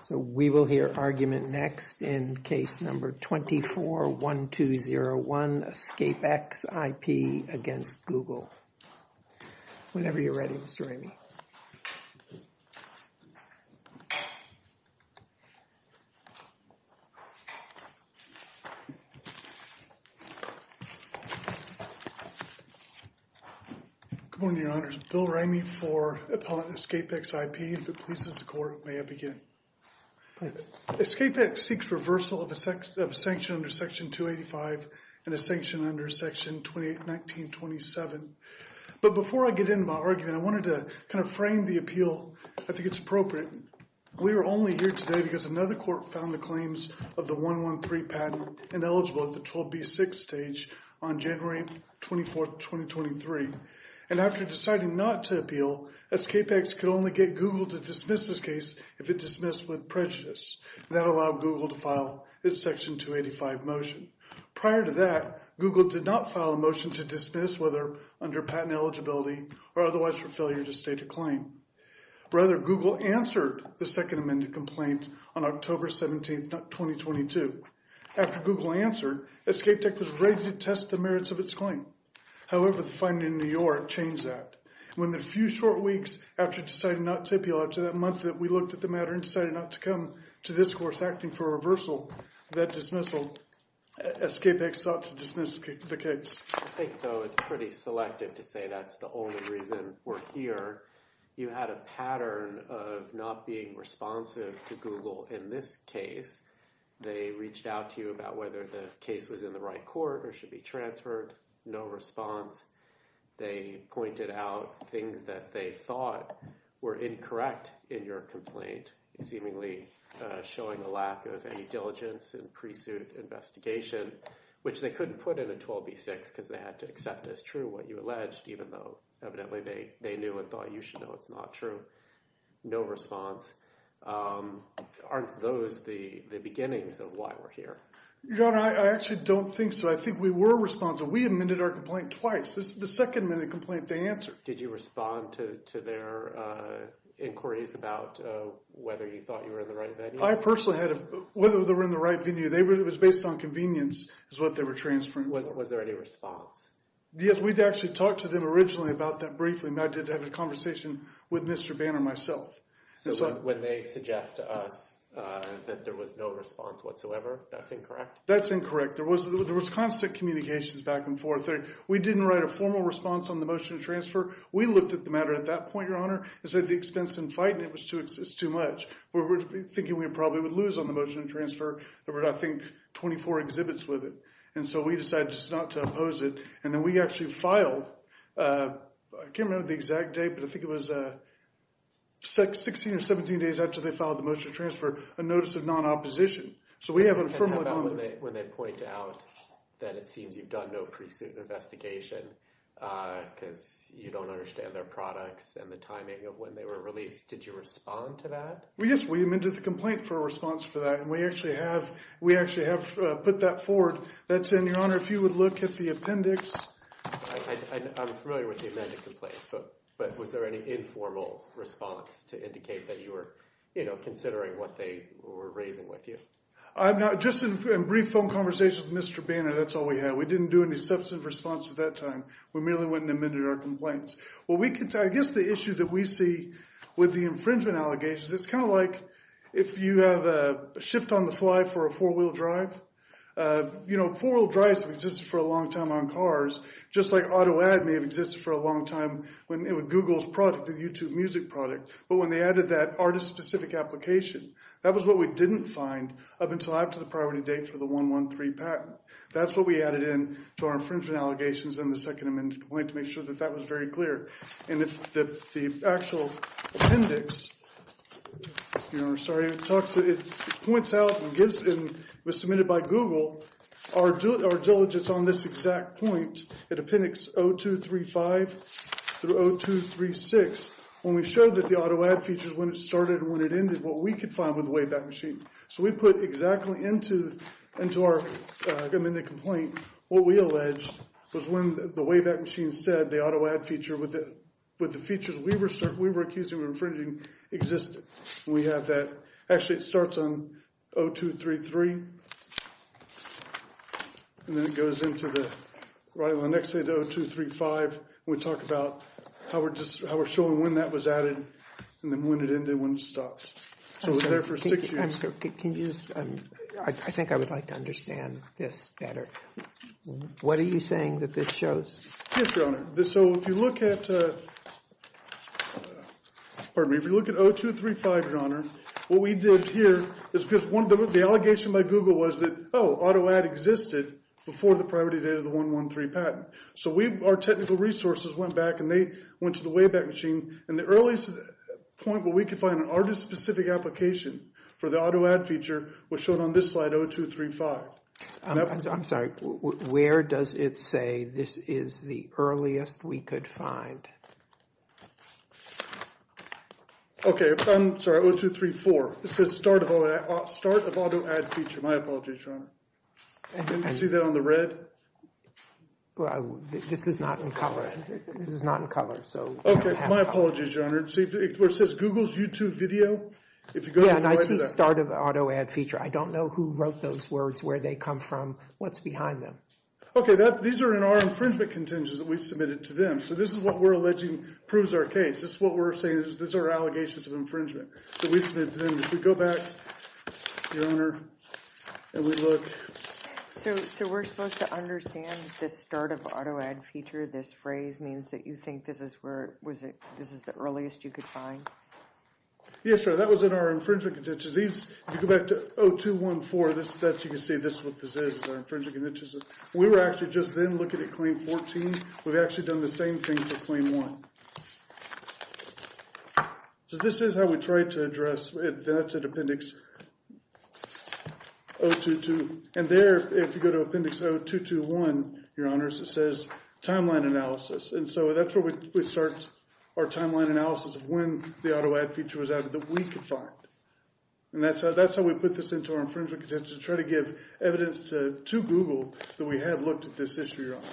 So we will hear argument next in case number 24-1201, EscapeX IP against Google. Whenever you're ready, Mr. Ramey. Good morning, Your Honors. Bill Ramey for Appellate and EscapeX IP. If it pleases the Court, may I begin? EscapeX seeks reversal of a sanction under Section 285 and a sanction under Section 1927. But before I get into my argument, I wanted to kind of frame the appeal. I think it's appropriate. We are only here today because another court found the claims of the 113 patent ineligible at the 12B6 stage on January 24, 2023. And after deciding not to appeal, EscapeX could only get Google to dismiss this case if it dismissed with prejudice. That allowed Google to file its Section 285 motion. Prior to that, Google did not file a motion to dismiss whether under patent eligibility or otherwise for failure to state a claim. Rather, Google answered the second amended complaint on October 17, 2022. After Google answered, EscapeX was ready to test the merits of its claim. However, the finding in New York changed that. Within a few short weeks after deciding not to appeal after that month that we looked at the matter and decided not to come to this course acting for a reversal, that dismissal, EscapeX sought to dismiss the case. I think, though, it's pretty selective to say that's the only reason we're here. You had a pattern of not being responsive to Google in this case. They reached out to you about whether the case was in the right court or should be transferred. No response. They pointed out things that they thought were incorrect in your complaint, seemingly showing a lack of any diligence and pre-suit investigation, which they couldn't put in a 12B6 because they had to accept as true what you alleged, even though evidently they knew and thought you should know it's not true. No response. Aren't those the beginnings of why we're here? Your Honor, I actually don't think so. I think we were responsive. We amended our complaint twice. This is the second minute complaint they answered. Did you respond to their inquiries about whether you thought you were in the right venue? I personally had, whether they were in the right venue, it was based on convenience is what they were transferring. Was there any response? Yes, we'd actually talked to them originally about that briefly, and I did have a conversation with Mr. Banner myself. So when they suggest to us that there was no response whatsoever, that's incorrect? That's incorrect. There was constant communications back and forth. We didn't write a formal response on the motion to transfer. We looked at the matter at that point, Your Honor, and said the expense in fighting it was too much. We were thinking we probably would lose on the motion to transfer. There were, I think, 24 exhibits with it. And so we decided just not to oppose it. And then we actually filed, I can't remember the exact date, but I think it was 16 or 17 days after they filed the motion to transfer, a notice of non-opposition. So we have a formal comment. When they point out that it seems you've done no pre-suit investigation because you don't understand their products and the timing of when they were released, did you respond to that? Yes, we amended the complaint for a response for that, and we actually have put that forward. That's in, Your Honor, if you would look at the appendix. I'm familiar with the amended complaint, but was there any informal response to indicate that you were considering what they were raising with you? Just in brief phone conversations with Mr. Banner, that's all we had. We didn't do any substantive response at that time. We merely went and amended our complaints. Well, I guess the issue that we see with the infringement allegations, it's kind of like if you have a shift on the fly for a four-wheel drive. Four-wheel drives have existed for a long time on cars, just like auto ad may have existed for a long time with Google's product, the YouTube music product. But when they added that artist-specific application, that was what we didn't find up until after the priority date for the 113 patent. That's what we added in to our infringement allegations in the second amended complaint to make sure that that was very clear. And if the actual appendix, Your Honor, sorry, it points out and was submitted by Google, our diligence on this exact point, at appendix 0235 through 0236, when we showed that the auto ad features when it started and when it ended, what we could find with the Wayback Machine. So we put exactly into our amended complaint what we alleged was when the Wayback Machine said the auto ad feature with the features we were accusing of infringing existed. We have that. Actually, it starts on 0233, and then it goes into the, right on the next page, 0235. We talk about how we're just, how we're showing when that was added, and then when it ended, when it stopped. So it was there for six years. Can you just, I think I would like to understand this better. What are you saying that this shows? Yes, Your Honor. So if you look at, pardon me, if you look at 0235, Your Honor, what we did here is because one of the allegations by Google was that, oh, auto ad existed before the priority date of the 113 patent. So we, our technical resources went back and they went to the Wayback Machine. And the earliest point where we could find an artist-specific application for the auto ad feature was shown on this slide, 0235. I'm sorry, where does it say this is the earliest we could find? Okay, I'm sorry, 0234. It says start of auto ad feature. My apologies, Your Honor. Didn't you see that on the red? This is not in color. This is not in color, so. Okay, my apologies, Your Honor. It says Google's YouTube video. Yeah, and I see start of auto ad feature. I don't know who wrote those words, where they come from, what's behind them. Okay, these are in our infringement contingents that we submitted to them. So this is what we're alleging proves our case. This is what we're saying is these are allegations of infringement that we submitted to them. If we go back, Your Honor, and we look. So we're supposed to understand this start of auto ad feature, this phrase means that you think this is where, was it, this is the earliest you could find? Yes, Your Honor, that was in our infringement contingents. These, if you go back to 0214, that you can see this is what this is, our infringement contingents. We were actually just then looking at claim 14. We've actually done the same thing for claim 1. So this is how we tried to address it. That's at appendix 022. And there, if you go to appendix 0221, Your Honors, it says timeline analysis. And so that's where we start our timeline analysis of when the auto ad feature was added that we could find. And that's how we put this into our infringement contingents to try to give evidence to Google that we had looked at this issue, Your Honor.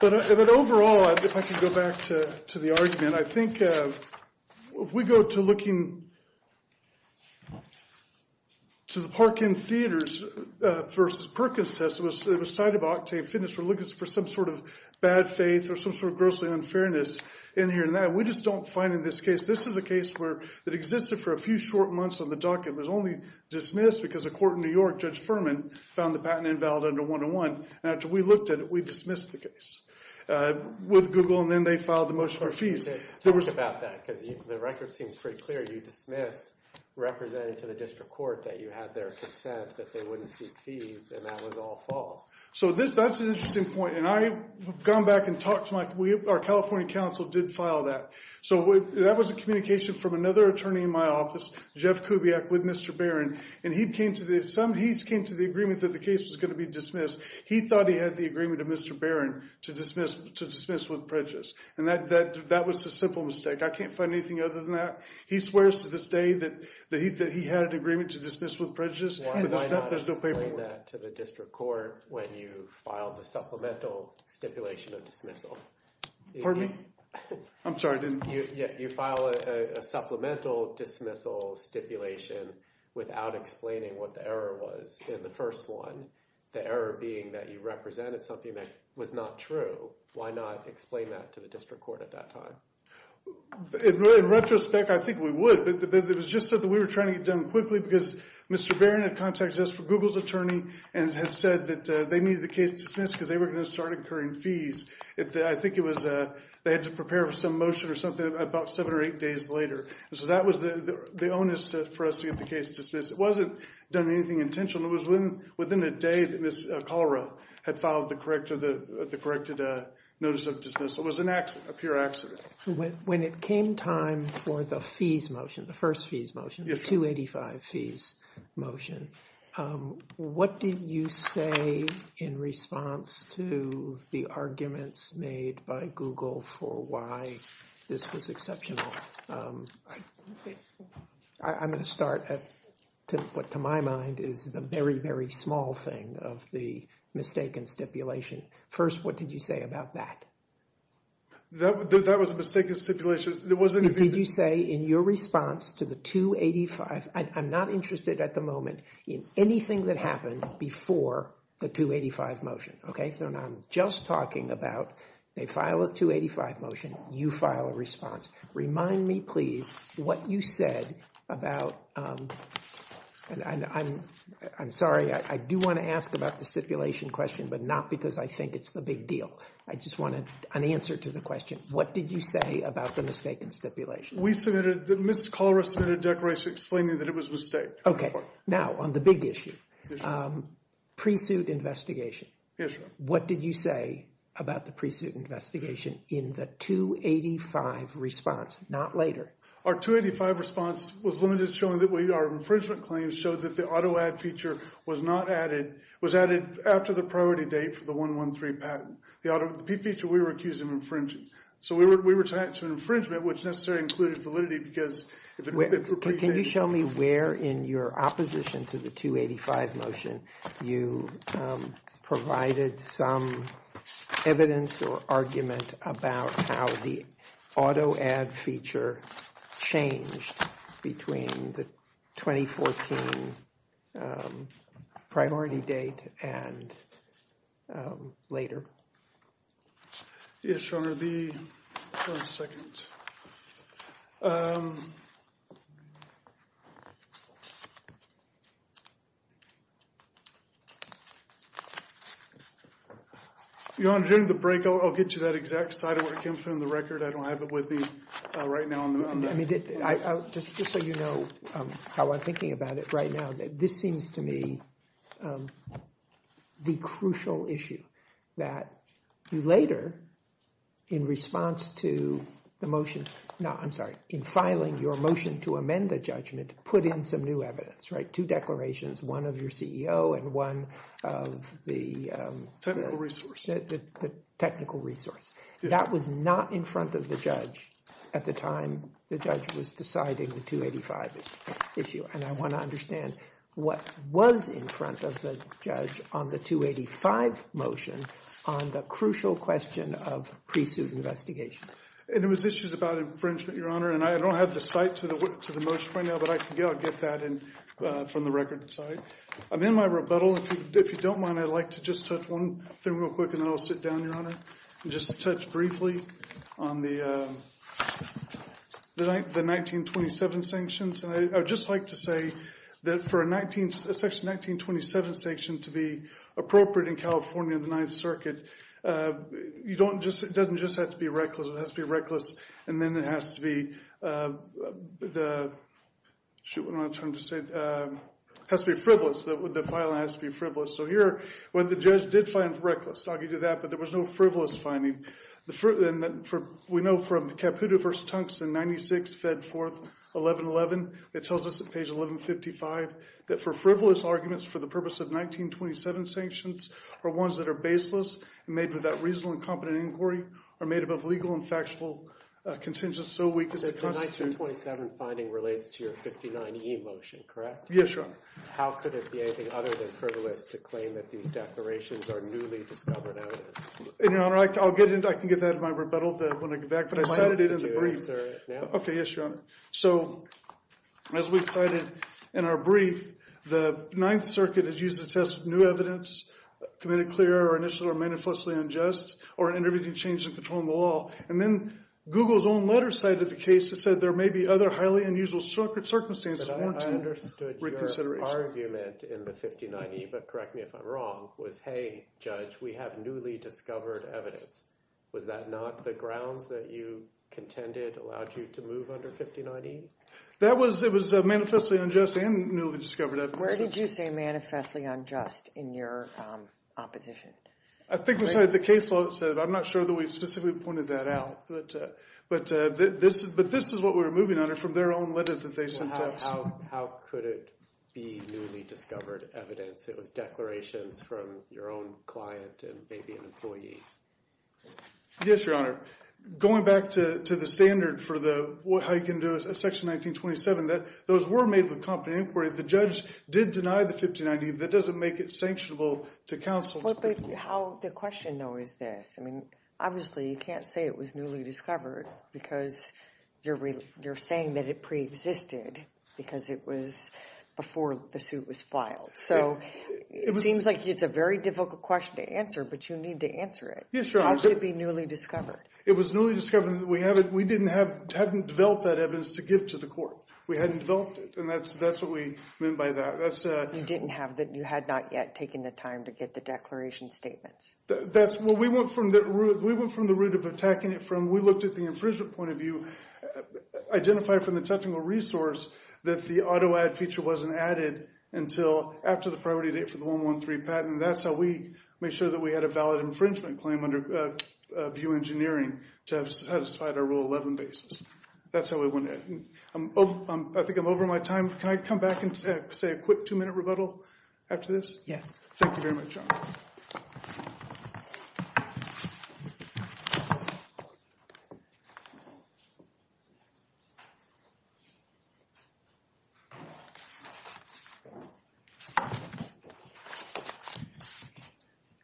But overall, if I could go back to the argument, I think if we go to looking to the Parkin Theaters versus Perkins test, it was cited by Octane Fitness. We're looking for bad faith or some sort of grossly unfairness in here. And we just don't find in this case, this is a case that existed for a few short months on the docket. It was only dismissed because a court in New York, Judge Furman, found the patent invalid under 101. And after we looked at it, we dismissed the case with Google. And then they filed the motion for fees. Talk about that because the record seems pretty clear. You dismissed, represented to the district court that you had their consent, that they wouldn't seek fees, and that was all false. So that's an interesting point. And I've gone back and talked to my, our California counsel did file that. So that was a communication from another attorney in my office, Jeff Kubiak, with Mr. Barron. And he came to the agreement that the case was going to be dismissed. He thought he had the agreement of Mr. Barron to dismiss with prejudice. And that was a simple mistake. I can't find anything other than that. He swears to this day that he had an agreement to dismiss with prejudice. Why not explain that to the district court when you filed the supplemental stipulation of dismissal? Pardon me? I'm sorry. You filed a supplemental dismissal stipulation without explaining what the error was in the first one. The error being that you represented something that was not true. Why not explain that to the district court at that time? In retrospect, I think we would. But it was just that we were trying to get it done quickly because Mr. Barron had contacted us from Google's attorney and had said that they needed the case dismissed because they were going to start incurring fees. I think it was, they had to prepare for some motion or something about seven or eight days later. So that was the onus for us to get the case dismissed. It wasn't done with anything intentional. It was within a day that Ms. Kalra had filed the corrected notice of dismissal. It was an accident, a pure accident. When it came time for the fees motion, the first fees motion, the 285 fees motion, what did you say in response to the arguments made by Google for why this was exceptional? I'm going to start at what, to my mind, is the very, very small thing of the stipulation. First, what did you say about that? That was a mistaken stipulation. Did you say in your response to the 285, I'm not interested at the moment in anything that happened before the 285 motion, okay? So now I'm just talking about they file a 285 motion, you file a response. Remind me, please, what you said about, and I'm sorry, I do want to ask about the stipulation question, but not because I think it's the big deal. I just wanted an answer to the question. What did you say about the mistaken stipulation? We submitted, Ms. Kalra submitted a declaration explaining that it was a mistake. Okay. Now, on the big issue, pre-suit investigation. Yes, sir. What did you say about the pre-suit investigation in the 285 response, not later? Our 285 response was limited, showing that our infringement claims showed that the auto-add feature was not added, was added after the priority date for the 113 patent. The auto-add feature, we were accused of infringing. So we were tied to infringement, which necessarily included validity because if it were pre-dated. Can you show me where in your opposition to the 285 motion you provided some evidence or argument about how the auto-add feature changed between the 2014 priority date and later? Yes, Your Honor, the, one second. Your Honor, during the break, I'll get you that exact slide of where it came from in the record. I don't have it with me right now. I mean, just so you know how I'm thinking about it right now, this seems to me the crucial issue that you later, in response to the motion, no, I'm sorry, in filing your motion to amend the judgment, put in some new evidence, right? Two declarations, one of your CEO and one of the technical resource. That was not in front of the judge at the time the judge was deciding the 285 issue. And I want to understand what was in front of the judge on the 285 motion on the crucial question of pre-suit investigation. And it was issues about infringement, Your Honor, and I don't have the site to the motion right now, but I can get that from the record. I'm sorry. I'm in my rebuttal. If you don't mind, I'd like to just touch one thing real quick, and then I'll sit down, Your Honor, and just touch briefly on the 1927 sanctions. And I would just like to say that for a section 1927 sanction to be appropriate in California, the Ninth Circuit, it doesn't just have to be reckless. It has to be reckless, and then it has to be the, shoot, what am I trying to say? It has to be frivolous. The judge did find reckless. I'll give you that, but there was no frivolous finding. We know from the Caputo v. Tungsten, 96, Fed 4th, 1111, it tells us at page 1155 that for frivolous arguments for the purpose of 1927 sanctions are ones that are baseless and made without reasonable and competent inquiry, are made above legal and factual contentions so weak as to constitute... The 1927 finding relates to your 59E motion, correct? Yes, Your Honor. How could it be anything other than frivolous to claim that these declarations are newly discovered evidence? And, Your Honor, I can get that in my rebuttal when I get back, but I cited it in the brief. Okay, yes, Your Honor. So, as we cited in our brief, the Ninth Circuit has used the test of new evidence committed clear or initially or manifestly unjust or intervening changes in control of the law. And then Google's own letter cited the case that said there may be other highly unusual circumstances... Reconsideration. I understood your argument in the 59E, but correct me if I'm wrong, was, hey, Judge, we have newly discovered evidence. Was that not the grounds that you contended allowed you to move under 59E? That was, it was manifestly unjust and newly discovered evidence. Where did you say manifestly unjust in your opposition? I think we cited the case law that said it. I'm not sure that we specifically pointed that out, but this is what we were moving under from their own letter that they sent us. How could it be newly discovered evidence? It was declarations from your own client and maybe an employee. Yes, Your Honor. Going back to the standard for the, how you can do a section 1927, that those were made with competent inquiry. The judge did deny the 59E. That doesn't make it sanctionable to counsel. Well, but how, the question, though, is this. I mean, obviously you can't say it was newly discovered because you're saying that it existed because it was before the suit was filed. So it seems like it's a very difficult question to answer, but you need to answer it. Yes, Your Honor. How could it be newly discovered? It was newly discovered. We haven't, we didn't have, hadn't developed that evidence to give to the court. We hadn't developed it. And that's, that's what we meant by that. That's a. You didn't have the, you had not yet taken the time to get the declaration statements. That's, well, we went from the root, we went from the root of attacking it from, we looked at the infringement point of view, identify from the technical resource that the auto-add feature wasn't added until after the priority date for the 113 patent. That's how we made sure that we had a valid infringement claim under VIEW Engineering to have satisfied our Rule 11 basis. That's how we went. I think I'm over my time. Can I come back and say a quick two-minute rebuttal after this? Yes. Thank you very much, Your Honor.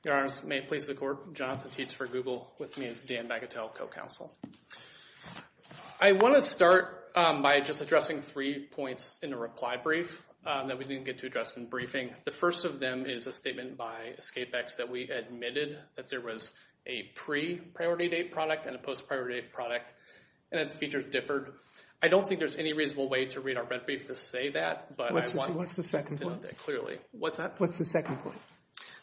Your Honor, may it please the Court, Jonathan Tietz for Google. With me is Dan Bagatelle, co-counsel. I want to start by just addressing three points in a reply brief that we didn't get to address in briefing. The first of them is a statement by EscapeX that we admitted that there was a pre-priority date product and a post-priority date product and that the features differed. I don't think there's any reasonable way to read our brief to say that. What's the second point? Clearly. What's that? What's the second point?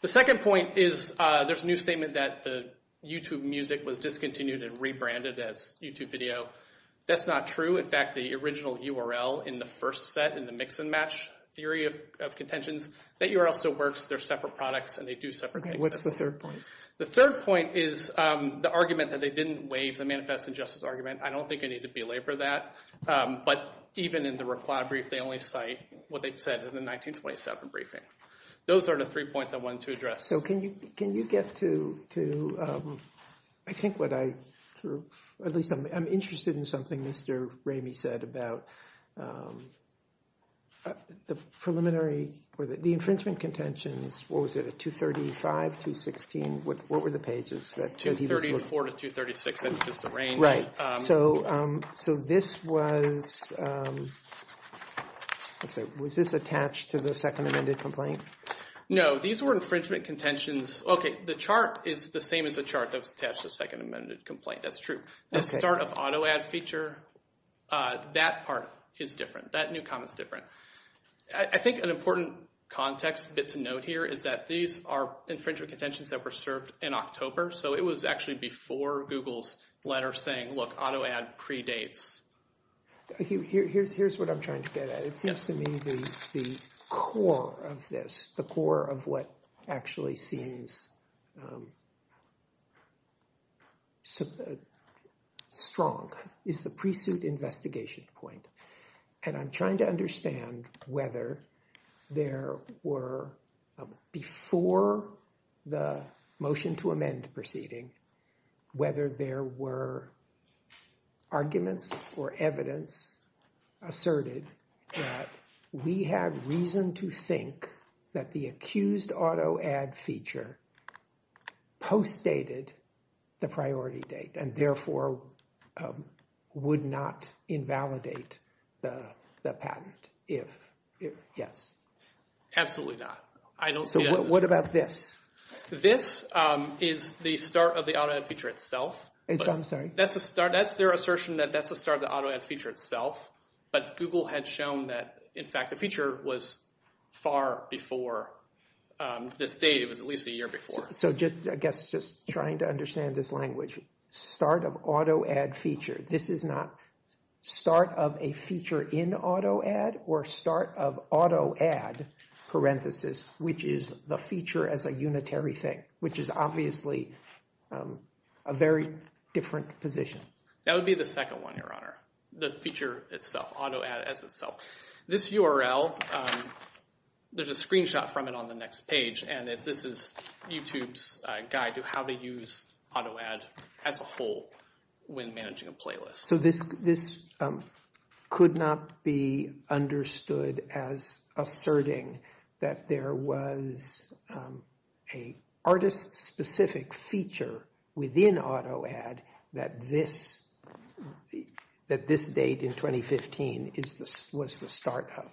The second point is there's a new statement that the YouTube Music was discontinued and rebranded as YouTube Video. That's not true. In fact, the original URL in the first set in the mix and match theory of contentions, that URL still works. They're separate products and they do separate things. What's the third point? The third point is the argument that they didn't waive the Manifest in Justice argument. I don't think I need to belabor that. But even in the reply brief, they only cite what they said in the 1927 briefing. Those are the three points I wanted to address. So can you get to, I think what I, at least I'm interested in something Mr. Ramey said about the preliminary, or the infringement contentions, what was it, at 235, 216, what were the pages? 234 to 236, that's just the range. Right, so this was, I'm sorry, was this attached to the second amended complaint? No, these were infringement contentions. Okay, the chart is the same as the chart that was attached to the second amended complaint, that's true. The start of auto-add feature, that part is different, that new comment is different. I think an important context bit to note here is that these are infringement contentions that were served in October, so it was actually before Google's letter saying, look, auto-add predates. Here's what I'm trying to get at. It seems to me the core of this, the core of what actually seems strong is the pre-suit investigation point. And I'm trying to understand whether there were, before the motion to amend proceeding, whether there were arguments or evidence asserted that we had reason to think that the accused auto-add feature post-dated the priority date and therefore would not invalidate the patent if, yes. Absolutely not. So what about this? This is the start of the auto-add feature itself. I'm sorry? That's their assertion that that's the start of the auto-add feature itself, but Google had shown that, in fact, the feature was far before this date, it was at least a year before. I guess just trying to understand this language, start of auto-add feature. This is not start of a feature in auto-add or start of auto-add, parenthesis, which is the feature as a unitary thing, which is obviously a very different position. That would be the second one, Your Honor, the feature itself, auto-add as itself. This URL, there's a screenshot from it on the next page, and this is YouTube's guide to how to use auto-add as a whole when managing a playlist. So this could not be understood as asserting that there was a artist-specific feature within auto-add that this date in 2015 was the start of?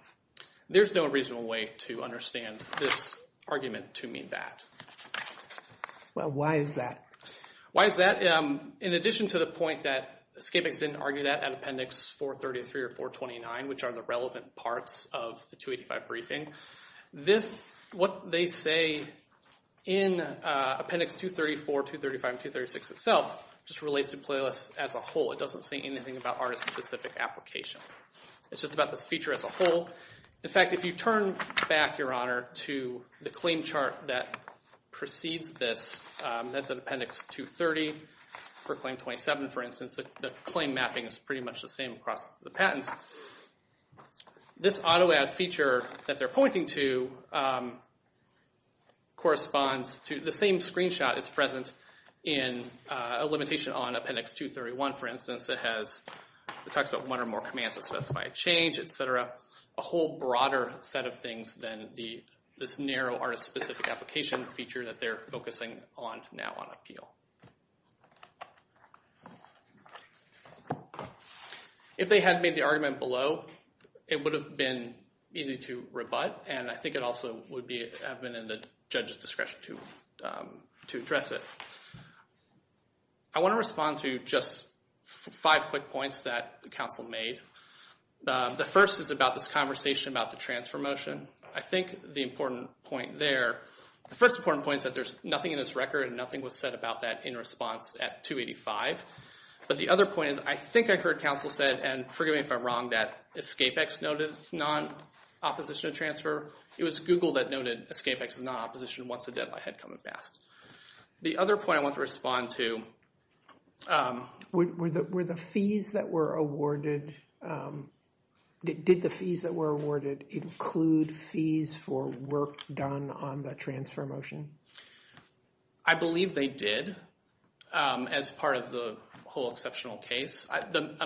There's no reasonable way to understand this argument to mean that. Well, why is that? Why is that? In addition to the point that ScapeX didn't argue that at Appendix 433 or 429, which are the relevant parts of the 285 briefing, what they say in Appendix 234, 235, and 236 itself just relates to playlists as a whole. It doesn't say anything about artist-specific application. It's just about this feature as a whole. In fact, if you turn back, Your Honor, to the claim chart that precedes this, that's at Appendix 230 for Claim 27, for instance, the claim mapping is pretty much the same across the patents. This auto-add feature that they're pointing to corresponds to the same screenshot is present in a limitation on Appendix 231, for instance. It talks about one or more commands that specify a change, etc. A whole broader set of things than this narrow artist-specific application feature that they're focusing on now on appeal. If they had made the argument below, it would have been easy to rebut, and I think it also would have been in the judge's discretion to address it. I want to respond to just five quick points that the counsel made. The first is about this conversation about the transfer motion. I think the important point there, the first important point is that there's nothing in this record and nothing was said about that in response at 285. But the other point is, I think I heard counsel said, and forgive me if I'm wrong, that EscapeX noted it's non-opposition to transfer. It was Google that noted EscapeX is not opposition once the deadline had come and passed. The other point I want to respond to... Were the fees that were awarded, did the fees that were awarded include fees for work done on the transfer motion? I believe they did as part of the whole exceptional case.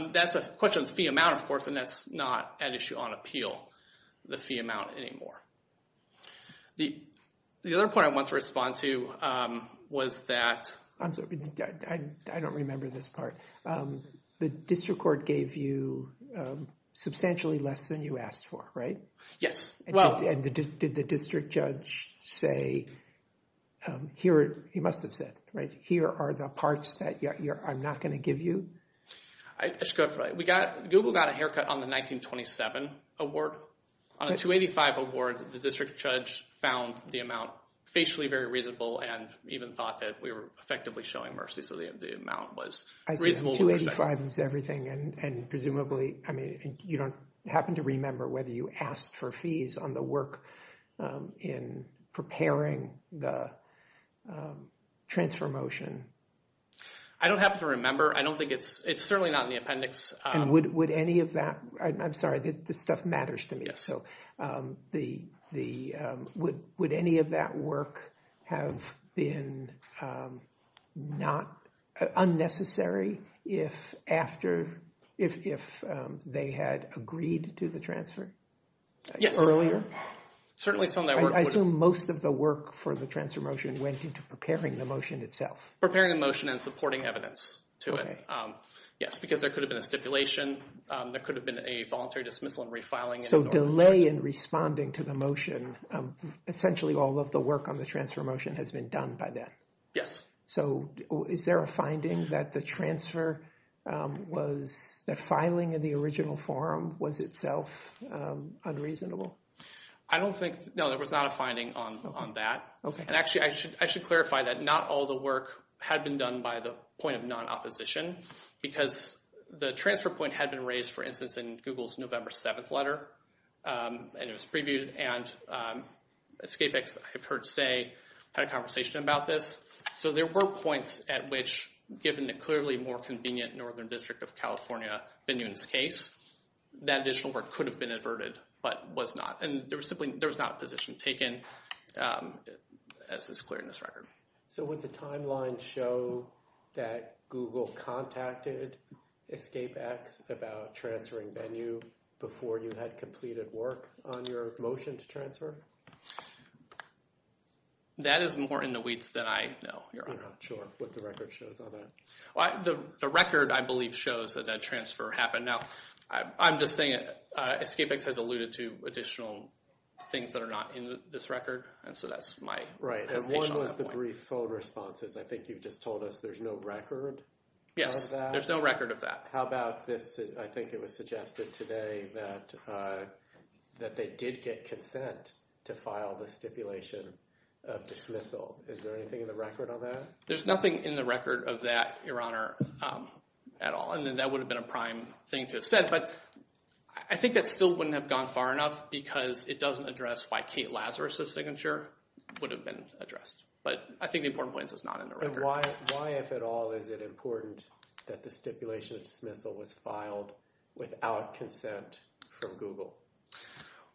That's a question of the fee amount, of course, and that's not an issue on appeal, the fee amount anymore. The other point I want to respond to was that... I don't remember this part. The district court gave you substantially less than you asked for, right? Yes. Did the district judge say, he must have said, here are the parts that I'm not going to give you? I should go for it. Google got a haircut on the 1927 award. On a 285 award, the district judge found the amount facially very reasonable and even thought that we were effectively showing mercy, so the amount was reasonable. I think 285 is everything, and presumably, I mean, you don't happen to remember whether you asked for fees on the work in preparing the transfer motion? I don't happen to remember. I don't think it's... It's certainly not in the appendix. And would any of that... I'm sorry, this stuff matters to me, so would any of that work have been not... Unnecessary if after... If they had agreed to the transfer earlier? Certainly some of that work... I assume most of the work for the transfer motion went into preparing the motion itself. Preparing the motion and supporting evidence to it. Yes, because there could have been a stipulation. There could have been a voluntary dismissal and refiling. So delay in responding to the motion, essentially all of the work on the transfer motion has been done by then. Yes. So is there a finding that the transfer was... The filing of the original form was itself unreasonable? I don't think... No, there was not a finding on that. Okay. And actually, I should clarify that not all the work had been done by the point of non-opposition, because the transfer point had been raised, for instance, in Google's November 7th letter, and it was previewed, and EscapeX, I've heard say, had a conversation about this. So there were points at which, given the clearly more convenient Northern District of California venue in this case, that additional work could have been adverted, but was not. And there was simply... There was not a position taken, as is clear in this record. So would the timeline show that Google contacted EscapeX about transferring venue before you had completed work on your motion to transfer? That is more in the weeds than I know. You're not sure what the record shows on that. Well, the record, I believe, shows that that transfer happened. Now, I'm just saying EscapeX has alluded to additional things that are not in this record, and so that's my... Right. And one was the brief phone responses. I think you've just told us there's no record? Yes, there's no record of that. How about this? I think it was suggested today that they did get consent to file the stipulation of dismissal. Is there anything in the record on that? There's nothing in the record of that, Your Honor, at all. And then that would have been a prime thing to have said, but I think that still wouldn't have gone far enough because it doesn't address why Kate Lazarus's signature would have been addressed. But I think the important point is not in the record. Why, if at all, is it important that the stipulation of dismissal was filed without consent from Google?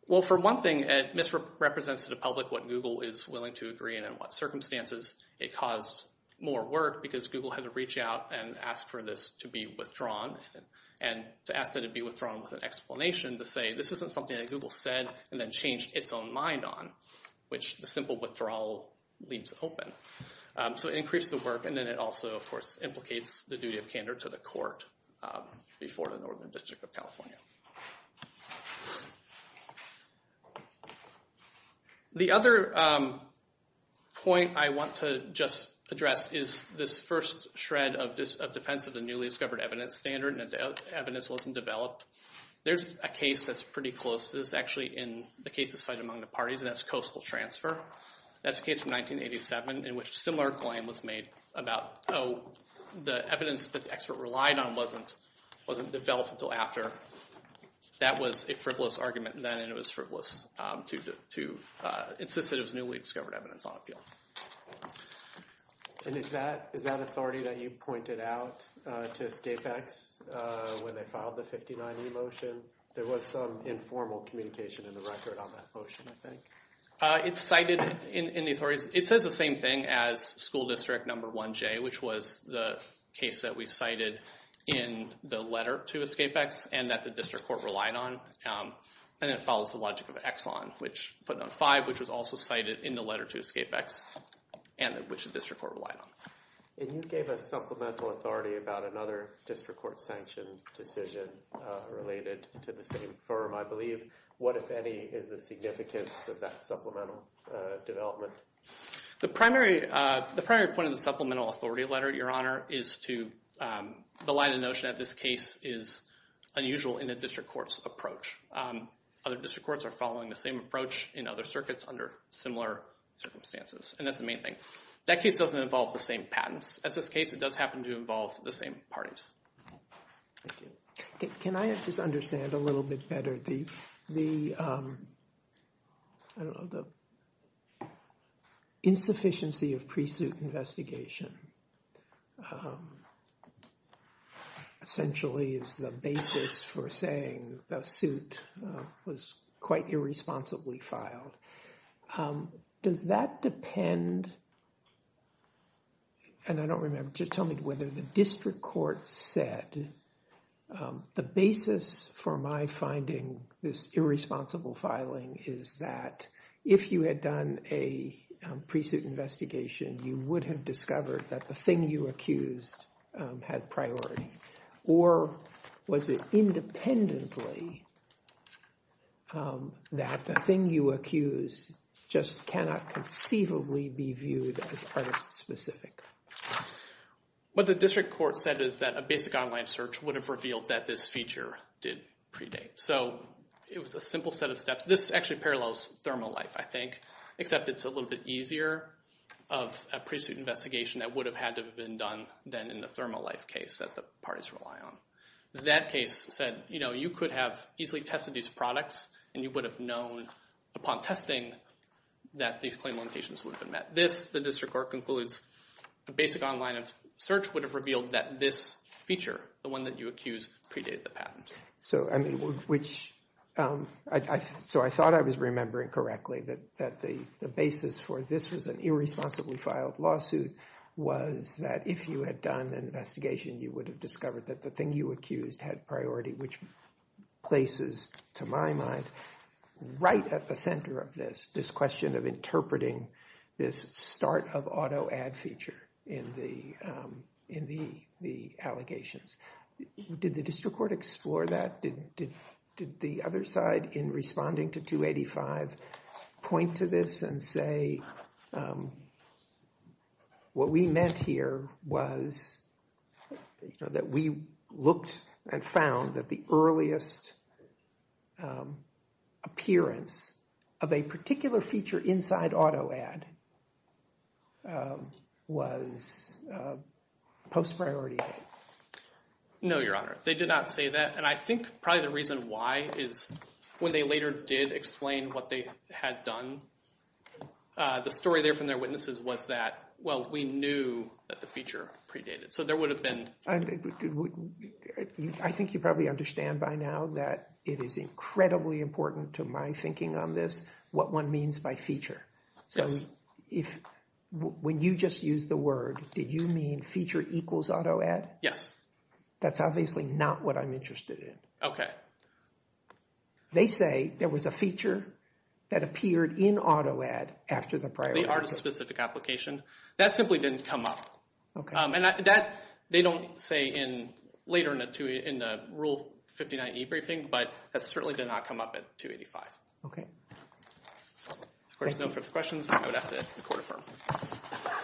Well, for one thing, it misrepresents to the public what Google is willing to agree and in what circumstances it caused more work because Google had to reach out and ask for this to be withdrawn. And to ask that it be withdrawn with an explanation to say this isn't something that Google said and then changed its own mind on, which the simple withdrawal leaves open. So it increased the work, and then it also, of course, implicates the duty of candor to the court before the Northern District of California. The other point I want to just address is this first shred of defense of the newly discovered evidence standard and evidence wasn't developed. There's a case that's pretty close to this, actually, in the case decided among the parties, and that's Coastal Transfer. That's a case from 1987 in which a similar claim was made about, oh, the evidence that the expert relied on wasn't developed until after. That was a frivolous argument then, and it was frivolous to insist that it was newly discovered evidence on appeal. And is that authority that you pointed out to Scapex when they filed the 59E motion? There was some informal communication in the record on that motion, I think. It's cited in the authorities. It says the same thing as school district number 1J, which was the case that we cited in the letter to Scapex and that the district court relied on, and it follows the logic of Exxon, footnote 5, which was also cited in the letter to Scapex and which the district court relied on. And you gave a supplemental authority about another district court sanctioned decision related to the same firm, I believe. What, if any, is the significance of that supplemental development? The primary point of the supplemental authority letter, Your Honor, is to the line of notion that this case is unusual in the district court's approach. Other district courts are following the same approach in other circuits under similar circumstances, and that's the main thing. That case doesn't involve the same patents. As this case, it does happen to involve the same parties. Thank you. Can I just understand a little bit better the, I don't know, the insufficiency of pre-suit investigation essentially is the basis for saying the suit was quite irresponsibly filed. Does that depend, and I don't remember, just tell me whether the district court said the basis for my finding this irresponsible filing is that if you had done a pre-suit investigation, you would have discovered that the thing you accused had priority. Or was it independently that the thing you accused just cannot conceivably be viewed as artist-specific? What the district court said is that a basic online search would have revealed that this feature did predate. So it was a simple set of steps. This actually parallels Thermalife, I think, except it's a little bit easier of a pre-suit investigation that would have had to have been done than in the Thermalife case that the parties rely on. Because that case said, you know, you could have easily tested these products and you would have known upon testing that these claim limitations would have been met. This, the district court concludes, a basic online search would have revealed that this feature, the one that you accused, predate the patent. So, I mean, which, so I thought I was remembering correctly that the basis for this was an irresponsibly filed lawsuit was that if you had done an investigation, you would have discovered that the thing you accused had priority, which places, to my mind, right at the center of this, this question of interpreting this start of auto ad feature in the, in the, the allegations. Did the district court explore that? Did the other side in responding to 285 point to this and say, um, what we meant here was, you know, that we looked and found that the earliest appearance of a particular feature inside auto ad was post-priority. No, Your Honor. They did not say that. And I think probably the reason why is when they later did explain what they had done, uh, the story there from their witnesses was that, well, we knew that the feature predated. So there would have been. I think you probably understand by now that it is incredibly important to my thinking on this what one means by feature. So if, when you just use the word, did you mean feature equals auto ad? Yes. That's obviously not what I'm interested in. Okay. They say there was a feature that appeared in auto ad after the priority. They are a specific application. That simply didn't come up. And that, they don't say in later in the two, in the Rule 59e briefing, but that certainly did not come up at 285. Okay. If there's no further questions, I would ask that the court affirm. Okay.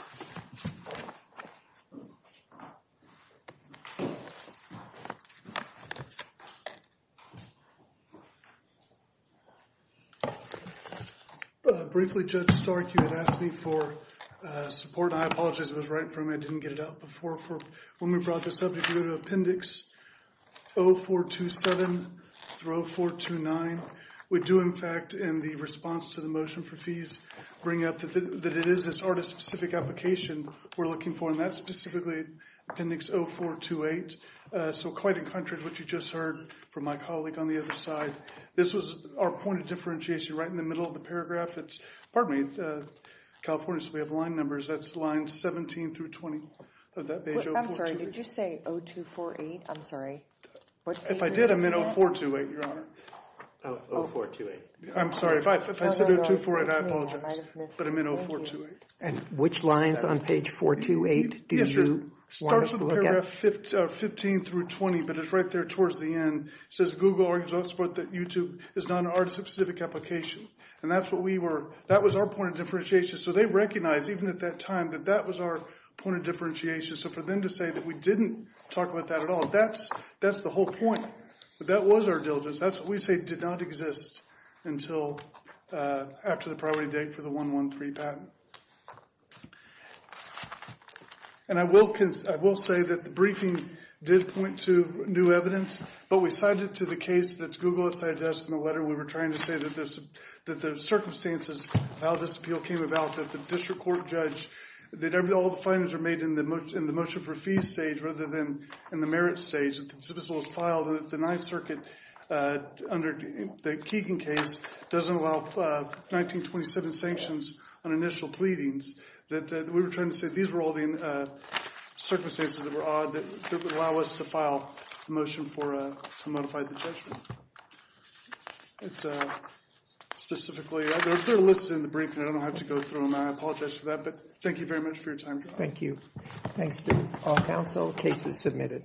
Briefly, Judge Stark, you had asked me for support. I apologize. It was right in front of me. I didn't get it out before. When we brought this up, if you go to Appendix 0427 through 0429, we do, in fact, in the response to the motion for fees, bring up that it is this artist-specific application we're looking for. And that's specifically Appendix 0428. So quite in contrast to what you just heard from my colleague on the other side, this was our point of differentiation. Right in the middle of the paragraph, it's, pardon me, Californians, we have line numbers. That's line 17 through 20 of that page. I'm sorry. Did you say 0248? I'm sorry. If I did, I'm in 0428, Your Honor. Oh, 0428. I'm sorry. If I said 0248, I apologize. But I'm in 0428. And which lines on page 428 do you want us to look at? 15 through 20. But it's right there towards the end. It says, Google argues elsewhere that YouTube is not an artist-specific application. And that's what we were. That was our point of differentiation. So they recognize, even at that time, that that was our point of differentiation. So for them to say that we didn't talk about that at all, that's the whole point. But that was our diligence. That's what we say did not exist until after the priority date for the 113 patent. And I will say that the briefing did point to new evidence. But we cited to the case that Google has cited to us in the letter. We were trying to say that the circumstances of how this appeal came about, that the district court judge, that all the findings are made in the motion for fees stage rather than in the merits stage. That the consensual was filed. And that the Ninth Circuit, under the Keegan case, doesn't allow 1927 sanctions on initial pleadings. That we were trying to say these were all the circumstances that were odd that would allow us to file a motion to modify the judgment. It's specifically, they're listed in the briefing. I don't know how to go through them. I apologize for that. But thank you very much for your time. Thank you. Thanks to all counsel. Case is submitted.